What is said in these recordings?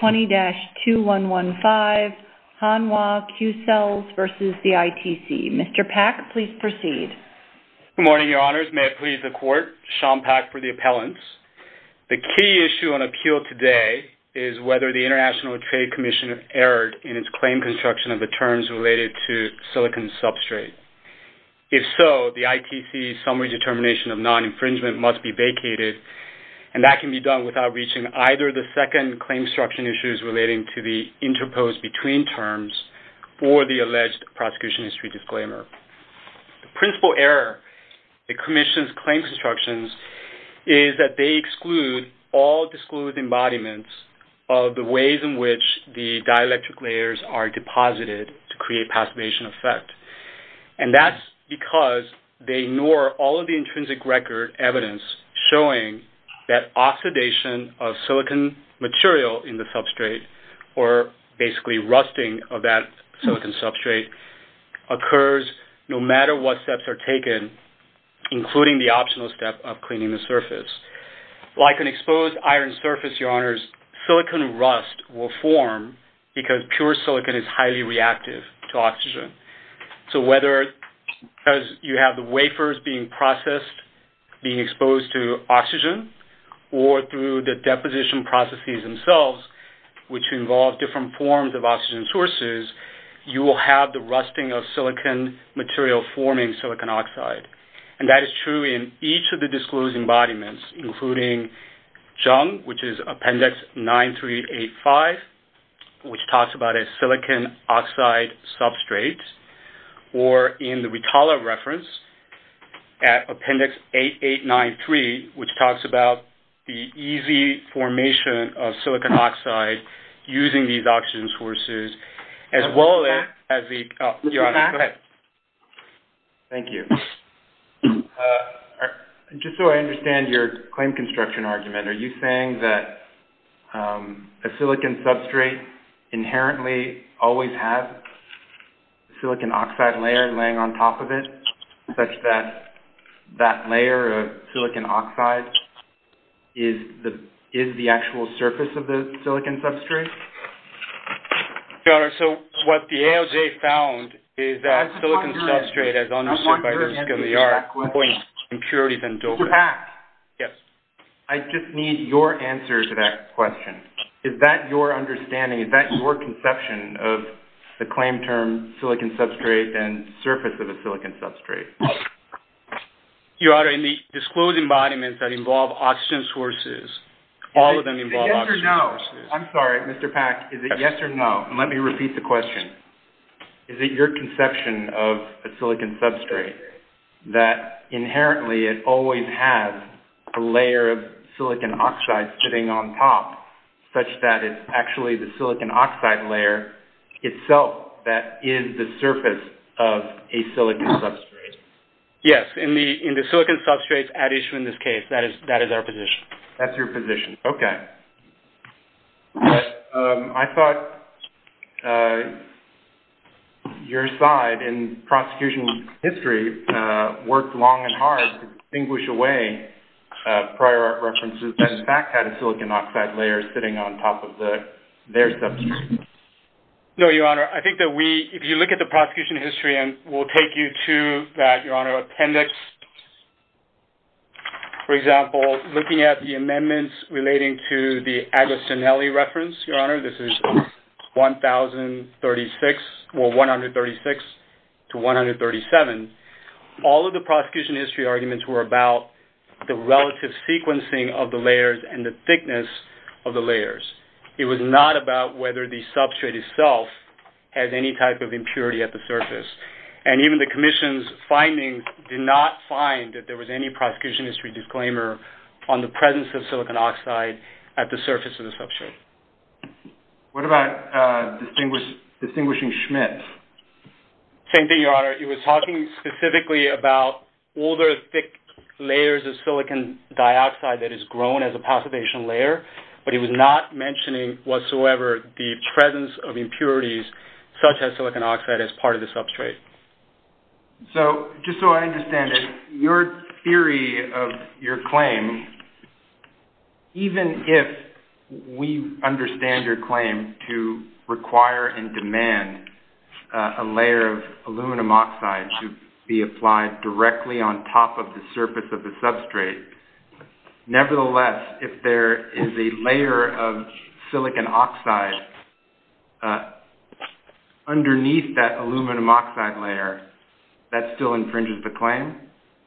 20-2115, Hanwha Q CELLS v. ITC. Mr. Pack, please proceed. Good morning, Your Honors. May it please the Court, Sean Pack for the appellants. The key issue on appeal today is whether the International Trade Commission erred in its claim construction of the terms related to silicon substrate. If so, the ITC's summary determination of non-infringement must be vacated, and that can be done without reaching either the second claim construction issues relating to the interposed between terms or the alleged prosecution history disclaimer. The principal error in the Commission's claim constructions is that they exclude all disclosed embodiments of the ways in which the dielectric layers are deposited to create passivation effect. And that's because they ignore all of the intrinsic record evidence showing that oxidation of silicon material in the substrate, or basically rusting of that silicon substrate, occurs no matter what steps are taken, including the optional step of cleaning the surface. Like an exposed iron surface, Your Honors, silicon rust will form because pure silicon is highly reactive to oxygen. So whether you have the wafers being processed, being exposed to oxygen, or through the deposition processes themselves, which involve different forms of oxygen sources, you will have the rusting of silicon material forming silicon oxide. And that is true in each of the disclosed embodiments, including JUNG, which is Appendix 9385, which talks about a silicon oxide substrate, or in the Ritala reference at Appendix 8893, which talks about the easy formation of silicon oxide using these oxygen sources, as well as the... Mr. Pack? Thank you. Just so I understand your claim construction argument, are you saying that a silicon substrate inherently always has a silicon oxide layer laying on top of it, such that that layer of silicon oxide is the actual surface of the silicon substrate? Your Honor, so what the ALJ found is that silicon substrate, as understood by the RISC-LPR, points to impurities and dolphins. Mr. Pack? Yes? I just need your answer to that question. Is that your understanding, is that your conception of the claim term, silicon substrate, and surface of a silicon substrate? Your Honor, in the disclosed embodiments that involve oxygen sources, all of them involve oxygen sources. Is it yes or no? I'm sorry, Mr. Pack, is it yes or no? Let me repeat the question. Is it your conception of a silicon substrate that inherently it always has a layer of silicon oxide sitting on top, such that it's actually the silicon oxide layer itself that is the surface of a silicon substrate? Yes, in the silicon substrate at issue in this case, that is our position. That's your position. Okay. I thought your side in prosecution history worked long and hard to distinguish away prior art references that in fact had a silicon oxide layer sitting on top of their substrate. No, Your Honor. I think that we, if you look at the prosecution history, and we'll take you to that, Your Honor, appendix. For example, looking at the amendments relating to the Agostinelli reference, Your Honor, this is 1036, or 136 to 137. All of the prosecution history arguments were about the relative sequencing of the layers and the thickness of the layers. It was not about whether the substrate itself has any type of impurity at the surface. Even the commission's findings did not find that there was any prosecution history disclaimer on the presence of silicon oxide at the surface of the substrate. What about distinguishing Schmidt? Same thing, Your Honor. It was talking specifically about older thick layers of silicon dioxide that is grown as a passivation layer, but it was not mentioning whatsoever the presence of impurities such as silicon oxide as part of the substrate. Just so I understand it, your theory of your claim, even if we understand your claim to require and demand a layer of aluminum oxide to be applied directly on top of the surface of the substrate, nevertheless, if there is a layer of silicon oxide at the surface of the substrate, underneath that aluminum oxide layer, that still infringes the claim?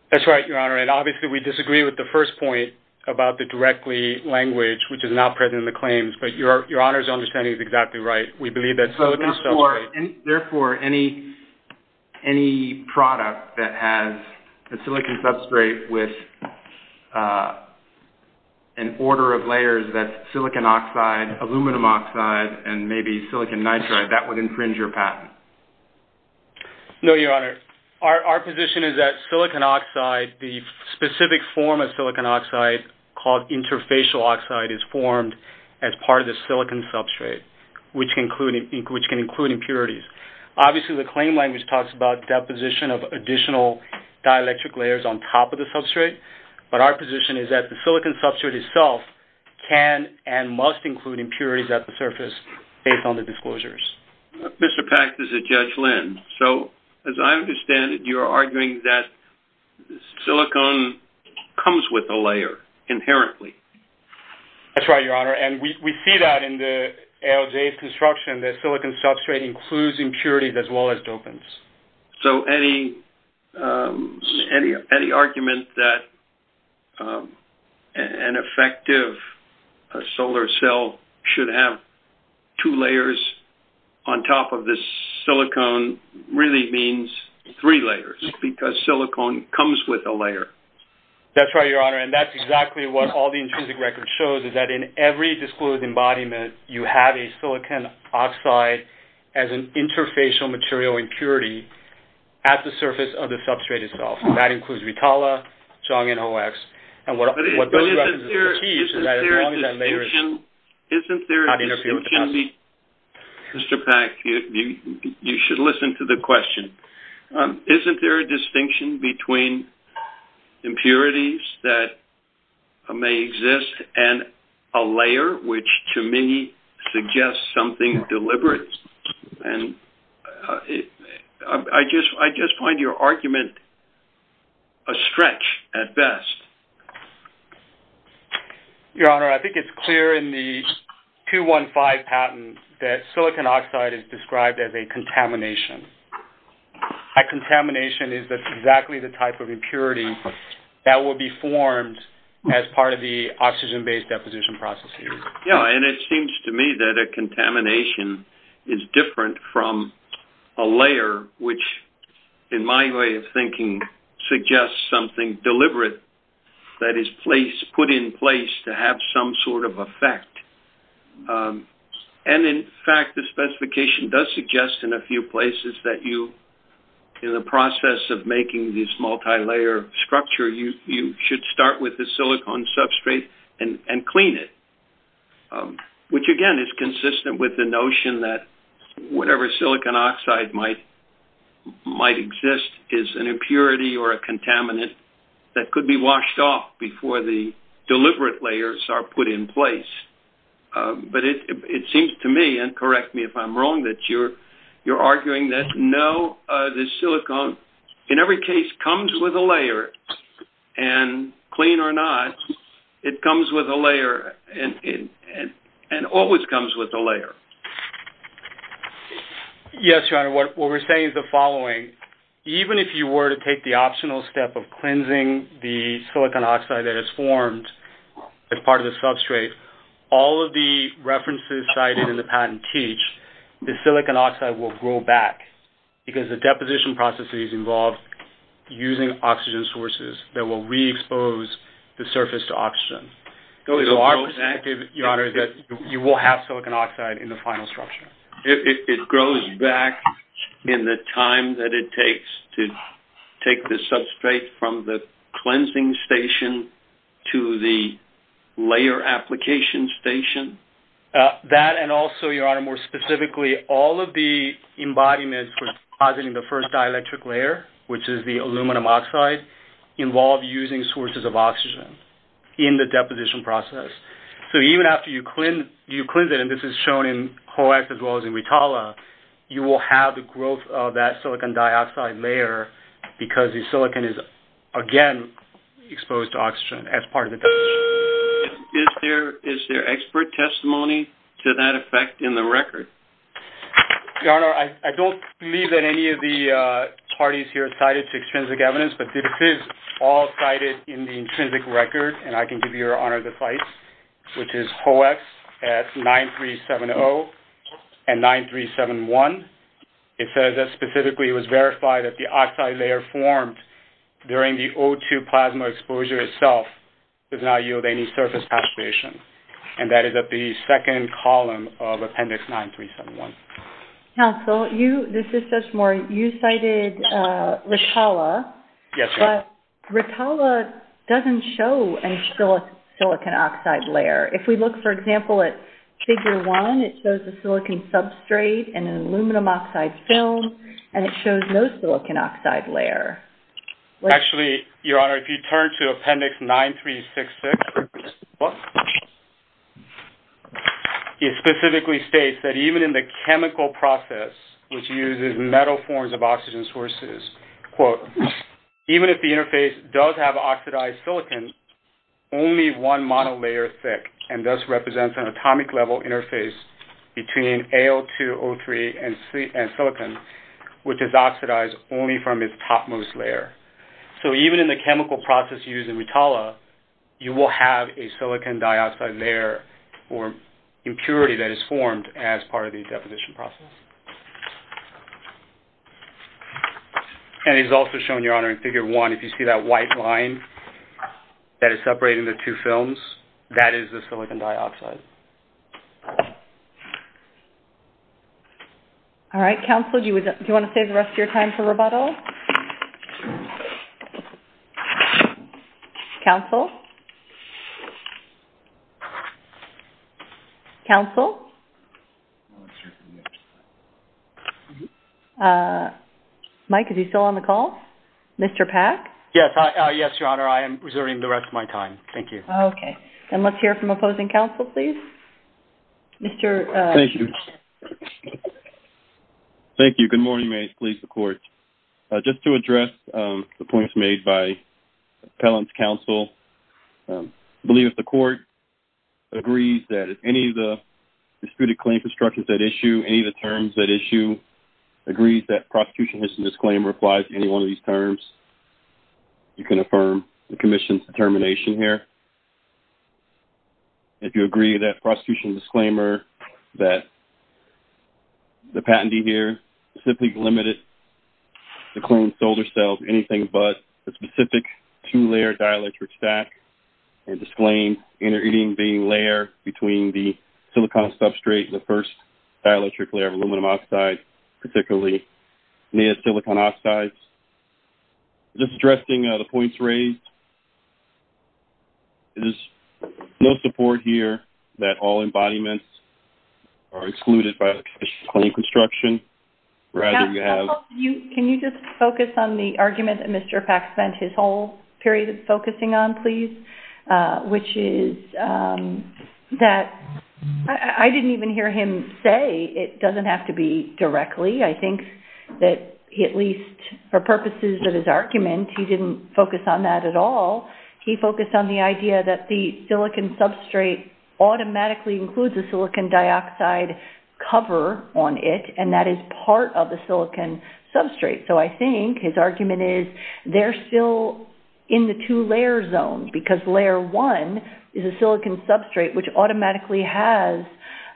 That's right, Your Honor. Obviously, we disagree with the first point about the directly language which is not present in the claims, but Your Honor's understanding is exactly right. We believe that silicon substrate... Therefore, any product that has a silicon substrate with an order of layers that's silicon oxide, aluminum oxide, and maybe silicon nitride, that would infringe your patent. No, Your Honor. Our position is that silicon oxide, the specific form of silicon oxide called interfacial oxide is formed as part of the silicon substrate, which can include impurities. Obviously, the claim language talks about deposition of additional dielectric layers on top of the substrate, but our position is that the silicon substrate itself can and must include impurities at the surface based on the disclosures. Mr. Pax, this is Judge Lin. As I understand it, you're arguing that silicon comes with a layer inherently. That's right, Your Honor. We see that in the ALJ's construction, that silicon substrate includes impurities as well as dopants. The fact that the cell should have two layers on top of this silicon really means three layers because silicon comes with a layer. That's right, Your Honor. That's exactly what all the intrinsic records show, is that in every disclosed embodiment, you have a silicon oxide as an interfacial material impurity at the surface of the substrate itself. That includes retala, Xiong, and OX. Isn't there a distinction between impurities that may exist and a layer, which to me suggests something deliberate? I just find your argument a stretch at best. Your Honor, I think it's clear in the 215 patent that silicon oxide is described as a contamination. A contamination is exactly the type of impurity that would be formed as part of the oxygen-based deposition process here. Yes, and it seems to me that a contamination is different from a layer, which in my way of thinking suggests something deliberate that is put in place to have some sort of effect. In fact, the specification does suggest in a few places that you, in the process of making this multi-layer structure, you should start with the silicon substrate and clean it, which again is consistent with the notion that whatever silicon oxide might exist is an impurity or a contaminant that could be washed off before the deliberate layers are put in place. But it seems to me, and correct me if I'm wrong, that you're arguing that no, the silicon in every case comes with a layer, and clean or not, it comes with a layer and always comes with a layer. Yes, Your Honor, what we're saying is the following. Even if you were to take the optional step of cleansing the silicon oxide that is formed as part of the substrate, all of the references cited in the patent teach that silicon oxide will grow back because the deposition processes involve using oxygen sources that will re-expose the surface to oxygen. So our most active, Your Honor, is that you will have silicon oxide in the final structure. It grows back in the time that it takes to take the substrate from the cleansing station to the layer application station? That and also, Your Honor, more specifically, all of the embodiments for depositing the first dielectric layer, which is the aluminum oxide, involve using sources of oxygen in the deposition process. So even after you cleanse it, and this is shown in HOAX as well as in RITALA, you will have the growth of that silicon dioxide layer because the silicon is again exposed to oxygen as part of the deposition. Is there expert testimony to that effect in the record? Your Honor, I don't believe that any of the parties here cited to extrinsic evidence, but this is all cited in the intrinsic record, and I can give Your Honor the sites, which is HOAX at 9370 and 9371. It says that specifically it was verified that the oxide layer formed during the O2 plasma exposure itself does not yield any surface saturation, and that is at the second column of Appendix 9371. Counsel, this is just more, you cited RITALA, but RITALA doesn't show any silicon oxide layer. If we look, for example, at Figure 1, it shows a silicon substrate and an aluminum oxide film, and it shows no silicon oxide layer. Actually, Your Honor, if you turn to Appendix 9366, it specifically states that even in the chemical process, which uses metal forms of oxygen sources, quote, even if the interface does have oxidized silicon, only one monolayer thick, and thus represents an atomic-level interface between Al2O3 and silicon, which is oxidized only from its topmost layer. So even in the chemical process used in RITALA, you will have a silicon dioxide layer or impurity that is formed as part of the deposition process. And it is also shown, Your Honor, in Figure 1, if you see that white line that is separating the two films, that is the silicon dioxide. All right. Counsel, do you want to save the rest of your time for rebuttal? Counsel? Counsel? Mike, are you still on the call? Mr. Pack? Yes. Yes, Your Honor. I am reserving the rest of my time. Thank you. Okay. And let's hear from opposing counsel, please. Mr. Pack. Thank you. Thank you. Good morning. May it please the Court. Just to address the points made by appellant's counsel, I believe if the Court agrees that if any of the disputed claim constructions at issue, any of the terms at issue, agrees that prosecution has to disclaim or apply to any one of these terms, you can affirm the Commission's determination here. If you agree to that prosecution disclaimer that the patentee here is simply limited to claim solar cells, anything but the specific two-layer dielectric stack and disclaim inter-eating being layer between the silicon substrate and the first dielectric layer of aluminum oxide, particularly near silicon oxides. Just addressing the points raised, there is no support here that all embodiments are excluded by the claim construction rather you have... Counsel, can you just focus on the argument that Mr. Pack spent his whole period of focusing on, please, which is that I didn't even hear him say it doesn't have to be directly. I think that at least for purposes of his argument, he didn't focus on that at all. He focused on the idea that the silicon substrate automatically includes a silicon dioxide cover on it and that is part of the silicon substrate. So I think his argument is they're still in the two-layer zone because layer one is a silicon substrate which automatically has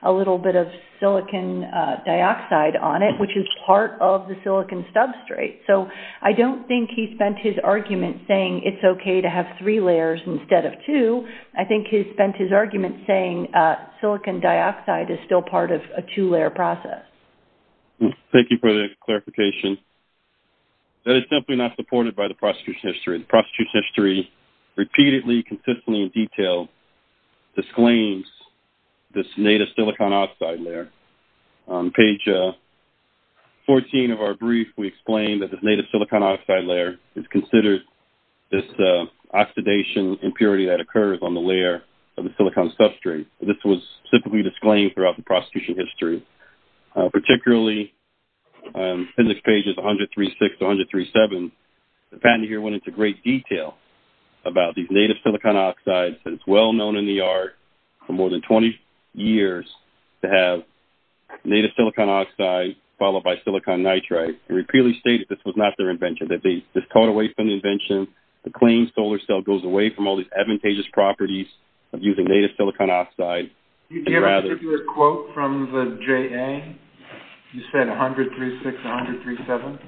a little bit of silicon dioxide on it, which is part of the silicon substrate. So I don't think he spent his argument saying it's okay to have three layers instead of two. I think he spent his argument saying silicon dioxide is still part of a two-layer process. Thank you for the clarification. That is simply not supported by the prostitution history. The prostitution history repeatedly, consistently in detail disclaims this native silicon oxide layer. On page 14 of our brief, we explained that this native silicon oxide layer is considered this oxidation impurity that occurs on the layer of the silicon substrate. This was simply disclaimed throughout the prostitution history, particularly in the pages 136 to 137. The patent here went into great detail about these native silicon oxides. It's well known in the art for more than 20 years to have native silicon oxide followed by silicon nitride. It repeatedly stated this was not their invention, that they just caught away from the invention. The clean solar cell goes away from all these advantageous properties of using native silicon oxide. Do you have a particular quote from the JA? You said 136, 137?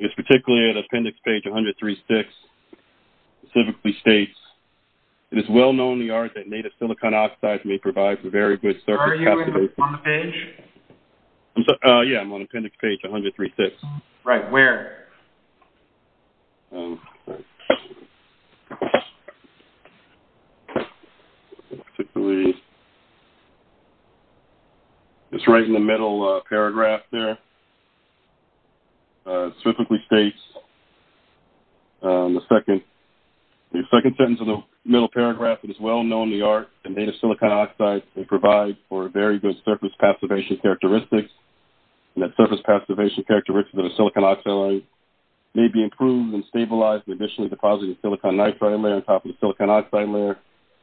It's particularly at appendix page 136. It specifically states, it is well known in the art that native silicon oxides may provide for very good surface... Are you on the page? Yeah, I'm on appendix page 136. Right, where? It's right in the middle paragraph there. It specifically states, the second sentence of the middle paragraph, it is well known in the art that native silicon oxides may provide for very good surface passivation characteristics. And that surface passivation characteristics of the silicon oxide layer may be improved and stabilized by additionally depositing the silicon nitride layer on top of the silicon oxide layer.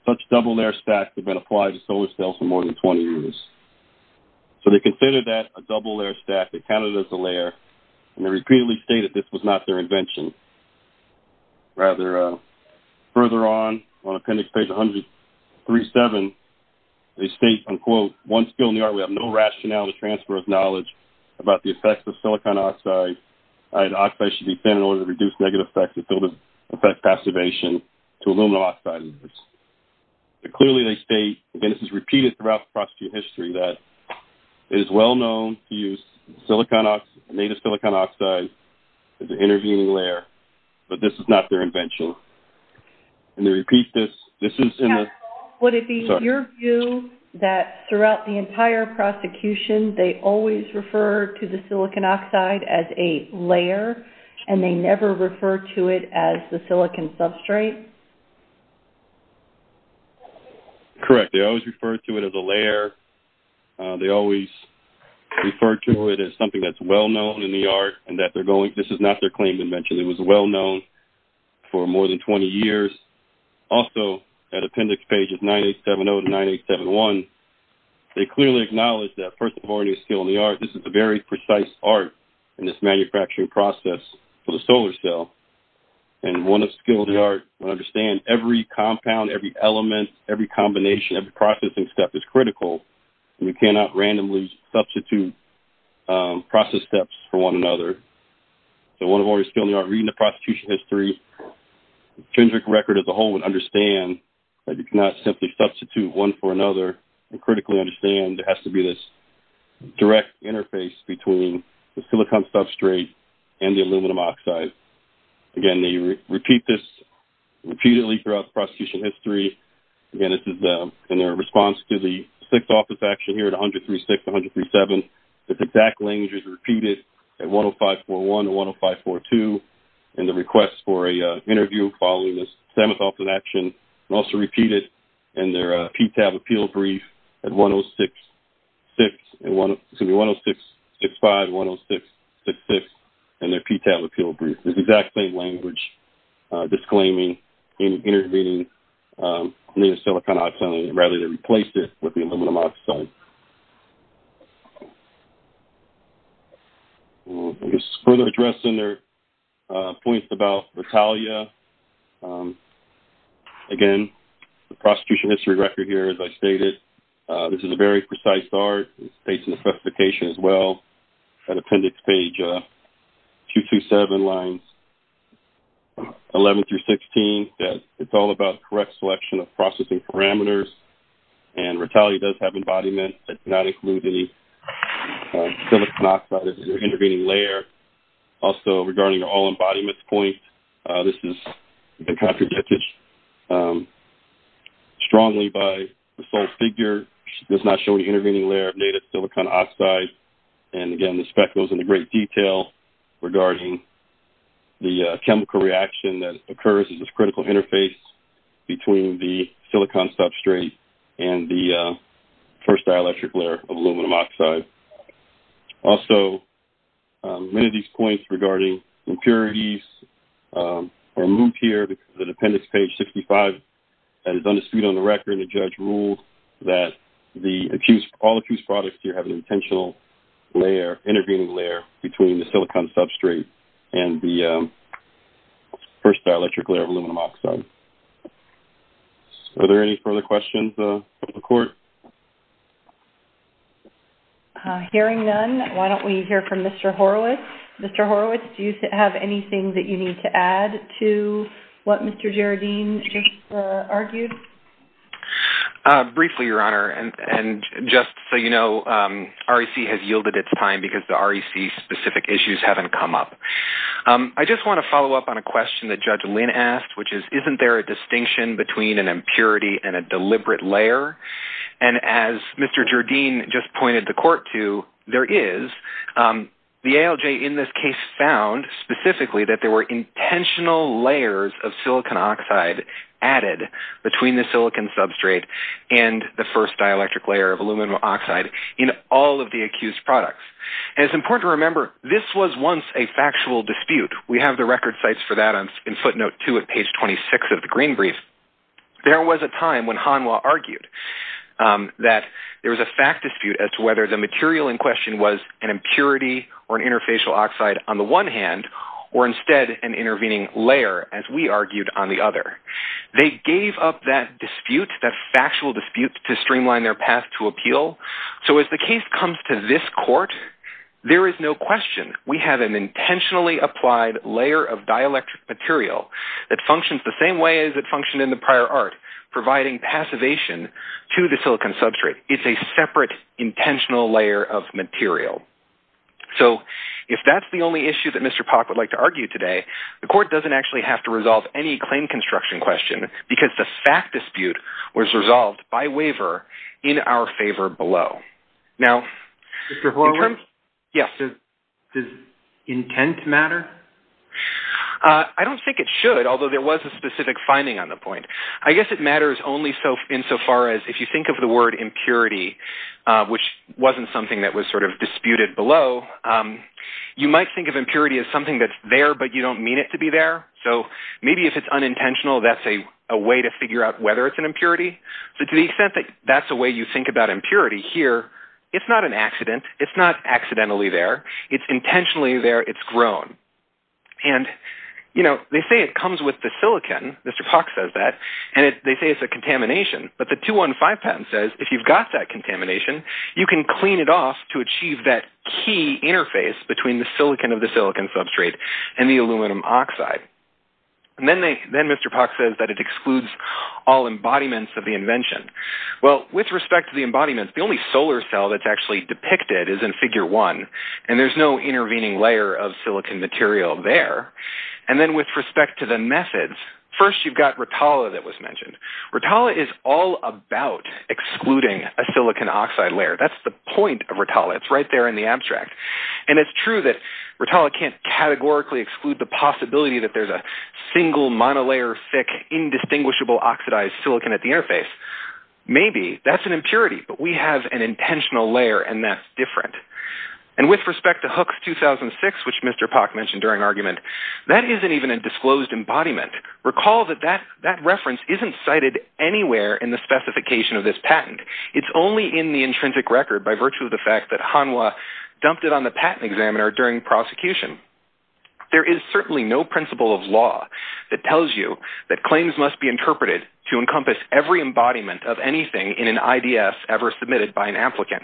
Such double layer stacks have been applied to solar cells for more than 20 years. So they considered that a double layer stack. They counted it as a layer. And they repeatedly stated this was not their invention. Rather, further on, on appendix page 137, they state, unquote, one skill in the art, we have no rationale to transfer of knowledge about the effects of silicon oxide. Oxide should be thin in order to reduce negative effects of filter effect passivation to aluminum oxides. Clearly, they state, and this is repeated throughout the history, that it is well known to use silicon oxide, native silicon oxide, as an intervening layer, but this is not their invention. And they repeat this. Would it be your view that throughout the entire prosecution, they always refer to the silicon oxide as a layer and they never refer to it as the silicon substrate? Correct. They always refer to it as a layer. They always refer to it as something that's well known in the art and that they're going this is not their claim invention. It was well known for more than 20 years. Also, that appendix page is 9870 to 9871. They clearly acknowledge that, first of all, any skill in the art, this is a very precise art in this manufacturing process for the solar cell. And one of skill in the art, understand every compound, every element, every combination of the processing step is critical. We cannot randomly substitute process steps for one another. So one of our skill in the art, reading the prosecution history, the Kendrick record as a whole would understand that you cannot simply substitute one for another and critically understand there has to be this direct interface between the silicon substrate and the aluminum oxide. Again, they repeat this repeatedly throughout the prosecution history. Again, this is in their response to the sixth office action here at 136, 137. This exact language is repeated at 105.41 and 105.42 in the request for an interview following the seventh office action and also repeated in their PTAB appeal brief at 106.65, 106.66 in their PTAB appeal brief. It's the exact same language, disclaiming, intervening in the silicon oxide and rather they replaced it with the aluminum oxide. I guess further addressing their points about retaliation, again, the prosecution history record here as I stated, this is a very precise art. It states in the specification as well at appendix page 227 lines 11 through 16 that it's all about correct selection of processing parameters and retaliation does have embodiment that does not include any silicon oxide as an intervening layer. Also, regarding the all embodiment point, this has been contradicted strongly by the sole figure. It does not show any intervening layer of native silicon oxide. And again, the spec goes into great detail regarding the chemical reaction that occurs as this critical interface between the silicon substrate and the first dielectric layer of aluminum oxide. Also, many of these points regarding impurities are moved here because of the appendix page 65 that is understood on the record and the judge ruled that all accused products here have an intentional layer, intervening layer between the silicon substrate and the first dielectric layer of aluminum oxide. Are there any further questions of the court? Hearing none, why don't we hear from Mr. Horowitz. Mr. Horowitz, do you have anything that you need to add to what Mr. Jaradine just argued? Briefly, Your Honor, and just so you know, REC has yielded its time because the REC specific issues haven't come up. I just want to follow up on a question that Judge Lynn asked, which is, isn't there a distinction between an impurity and a deliberate layer? And as Mr. Jaradine just pointed the court to, there is. The ALJ in this case found specifically that there were intentional layers of silicon oxide added between the silicon substrate and the first dielectric layer of aluminum oxide in all of the accused products. And it's important to remember, this was once a factual dispute. We have the record sites for that in footnote 2 at page 26 of the Green Brief. There was a time when Hanwha argued that there was a fact dispute as to whether the material in question was an impurity or an interfacial oxide on the one hand, or instead an intervening layer, as we argued, on the other. They gave up that dispute, that factual dispute, to streamline their path to appeal. So as the case comes to this court, there is no question. We have an intentionally applied layer of dielectric material that functions the same way as it functioned in the prior art, providing passivation to the silicon substrate. It's a separate intentional layer of material. So if that's the only issue that Mr. Pock would like to argue today, the court doesn't actually have to resolve any claim construction question, because the fact dispute was resolved by waiver in our favor below. Now... Mr. Horowitz? Yes. Does intent matter? I don't think it should, although there was a specific finding on the point. I guess it matters only insofar as if you think of the word impurity, which wasn't something that was sort of disputed below, you might think of impurity as something that's there, but you don't mean it to be there. So maybe if it's unintentional, that's a way to figure out whether it's an impurity. So to the extent that that's a way you think about impurity here, it's not an accident. It's not accidentally there. It's intentionally there. It's grown. And, you know, they say it comes with the silicon. Mr. Pock says that. And they say it's a contamination. But the 215 patent says if you've got that contamination, you can clean it off to achieve that key interface between the silicon of the silicon substrate and the aluminum oxide. And then Mr. Pock says that it excludes all embodiments of the invention. Well, with respect to the embodiment, the only solar cell that's actually depicted is in Figure 1, and there's no intervening layer of silicon material there. And then with respect to the methods, first you've got Rotala that was mentioned. Rotala is all about excluding a silicon oxide layer. That's the point of Rotala. It's right there in the abstract. And it's true that Rotala can't categorically exclude the possibility that there's a single monolayer thick indistinguishable oxidized silicon at the interface. Maybe. That's an impurity. But we have an intentional layer, and that's different. And with respect to Hooks 2006, which Mr. Pock mentioned during argument, that isn't even a disclosed embodiment. Recall that that reference isn't cited anywhere in the specification of this patent. It's only in the intrinsic record by virtue of the fact that Hanwha dumped it on the patent examiner during prosecution. There is certainly no principle of law that tells you that claims must be interpreted to encompass every embodiment of anything in an IDF ever submitted by an applicant.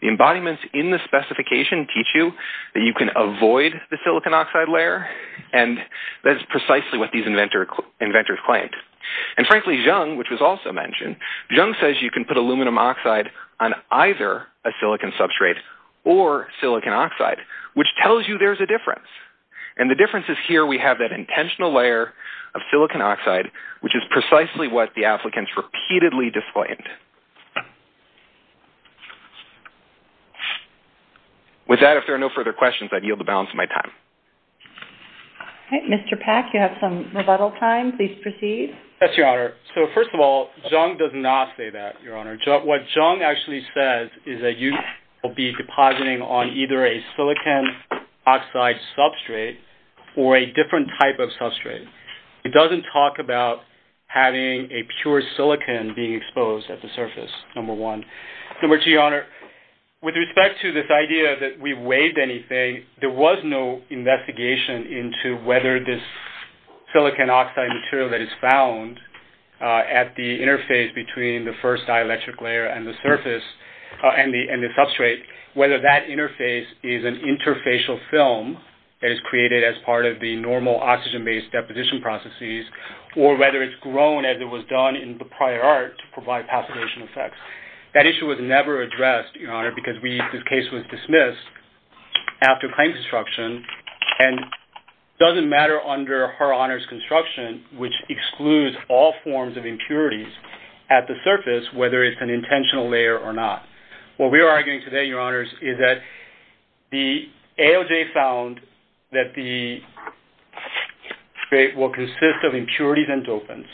The embodiments in the specification teach you that you can avoid the silicon oxide layer, and that is precisely what these inventors claimed. And frankly, Jung, which was also mentioned, Jung says you can put aluminum oxide on either a silicon substrate or silicon oxide, which tells you there's a difference. And the difference is here we have that intentional layer of silicon oxide, which is precisely what the applicants repeatedly disclaimed. With that, if there are no further questions, I yield the balance of my time. Okay, Mr. Pack, you have some rebuttal time. Please proceed. Yes, Your Honor. So, first of all, Jung does not say that, Your Honor. What Jung actually says is that you will be depositing on either a silicon oxide substrate or a different type of substrate. It doesn't talk about having a pure silicon being exposed at the surface, number one. Number two, Your Honor, with respect to this idea that we waived anything, there was no investigation into whether this silicon oxide material that is found at the interface between the first dielectric layer and the substrate, whether that interface is an interfacial film that is created as part of the normal oxygen-based deposition processes or whether it's grown as it was done in the prior art to provide passivation effects. That issue was never addressed, Your Honor, because this case was dismissed after claim construction and doesn't matter under her Honor's construction, which excludes all forms of impurities at the surface, whether it's an intentional layer or not. What we are arguing today, Your Honors, is that the ALJ found that the substrate will consist of impurities and dopants.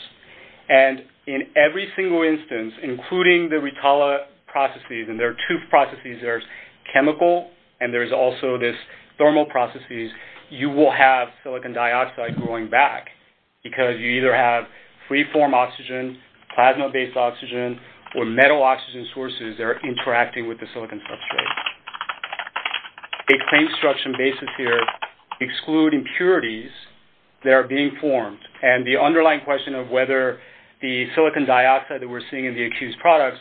And in every single instance, including the retala processes, and there are two processes, there's chemical and there's also this thermal processes, you will have silicon dioxide growing back because you either have free-form oxygen, plasma-based oxygen, or metal oxygen sources that are interacting with the silicon substrate. The claim construction basis here excludes impurities that are being formed. And the underlying question of whether the silicon dioxide that we're seeing in the accused products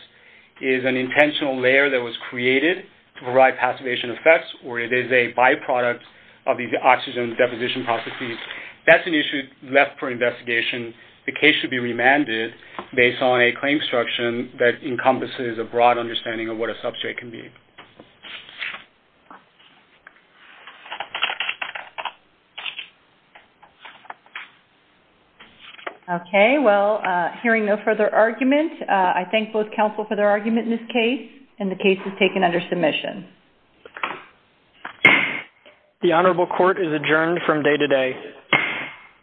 is an intentional layer that was created to provide passivation effects or it is a byproduct of these oxygen deposition processes, that's an issue left for investigation. The case should be remanded based on a claim construction that encompasses a broad understanding of what a substrate can be. Okay, well, hearing no further argument, I thank both counsel for their argument in this case, and the case is taken under submission. The Honorable Court is adjourned from day to day.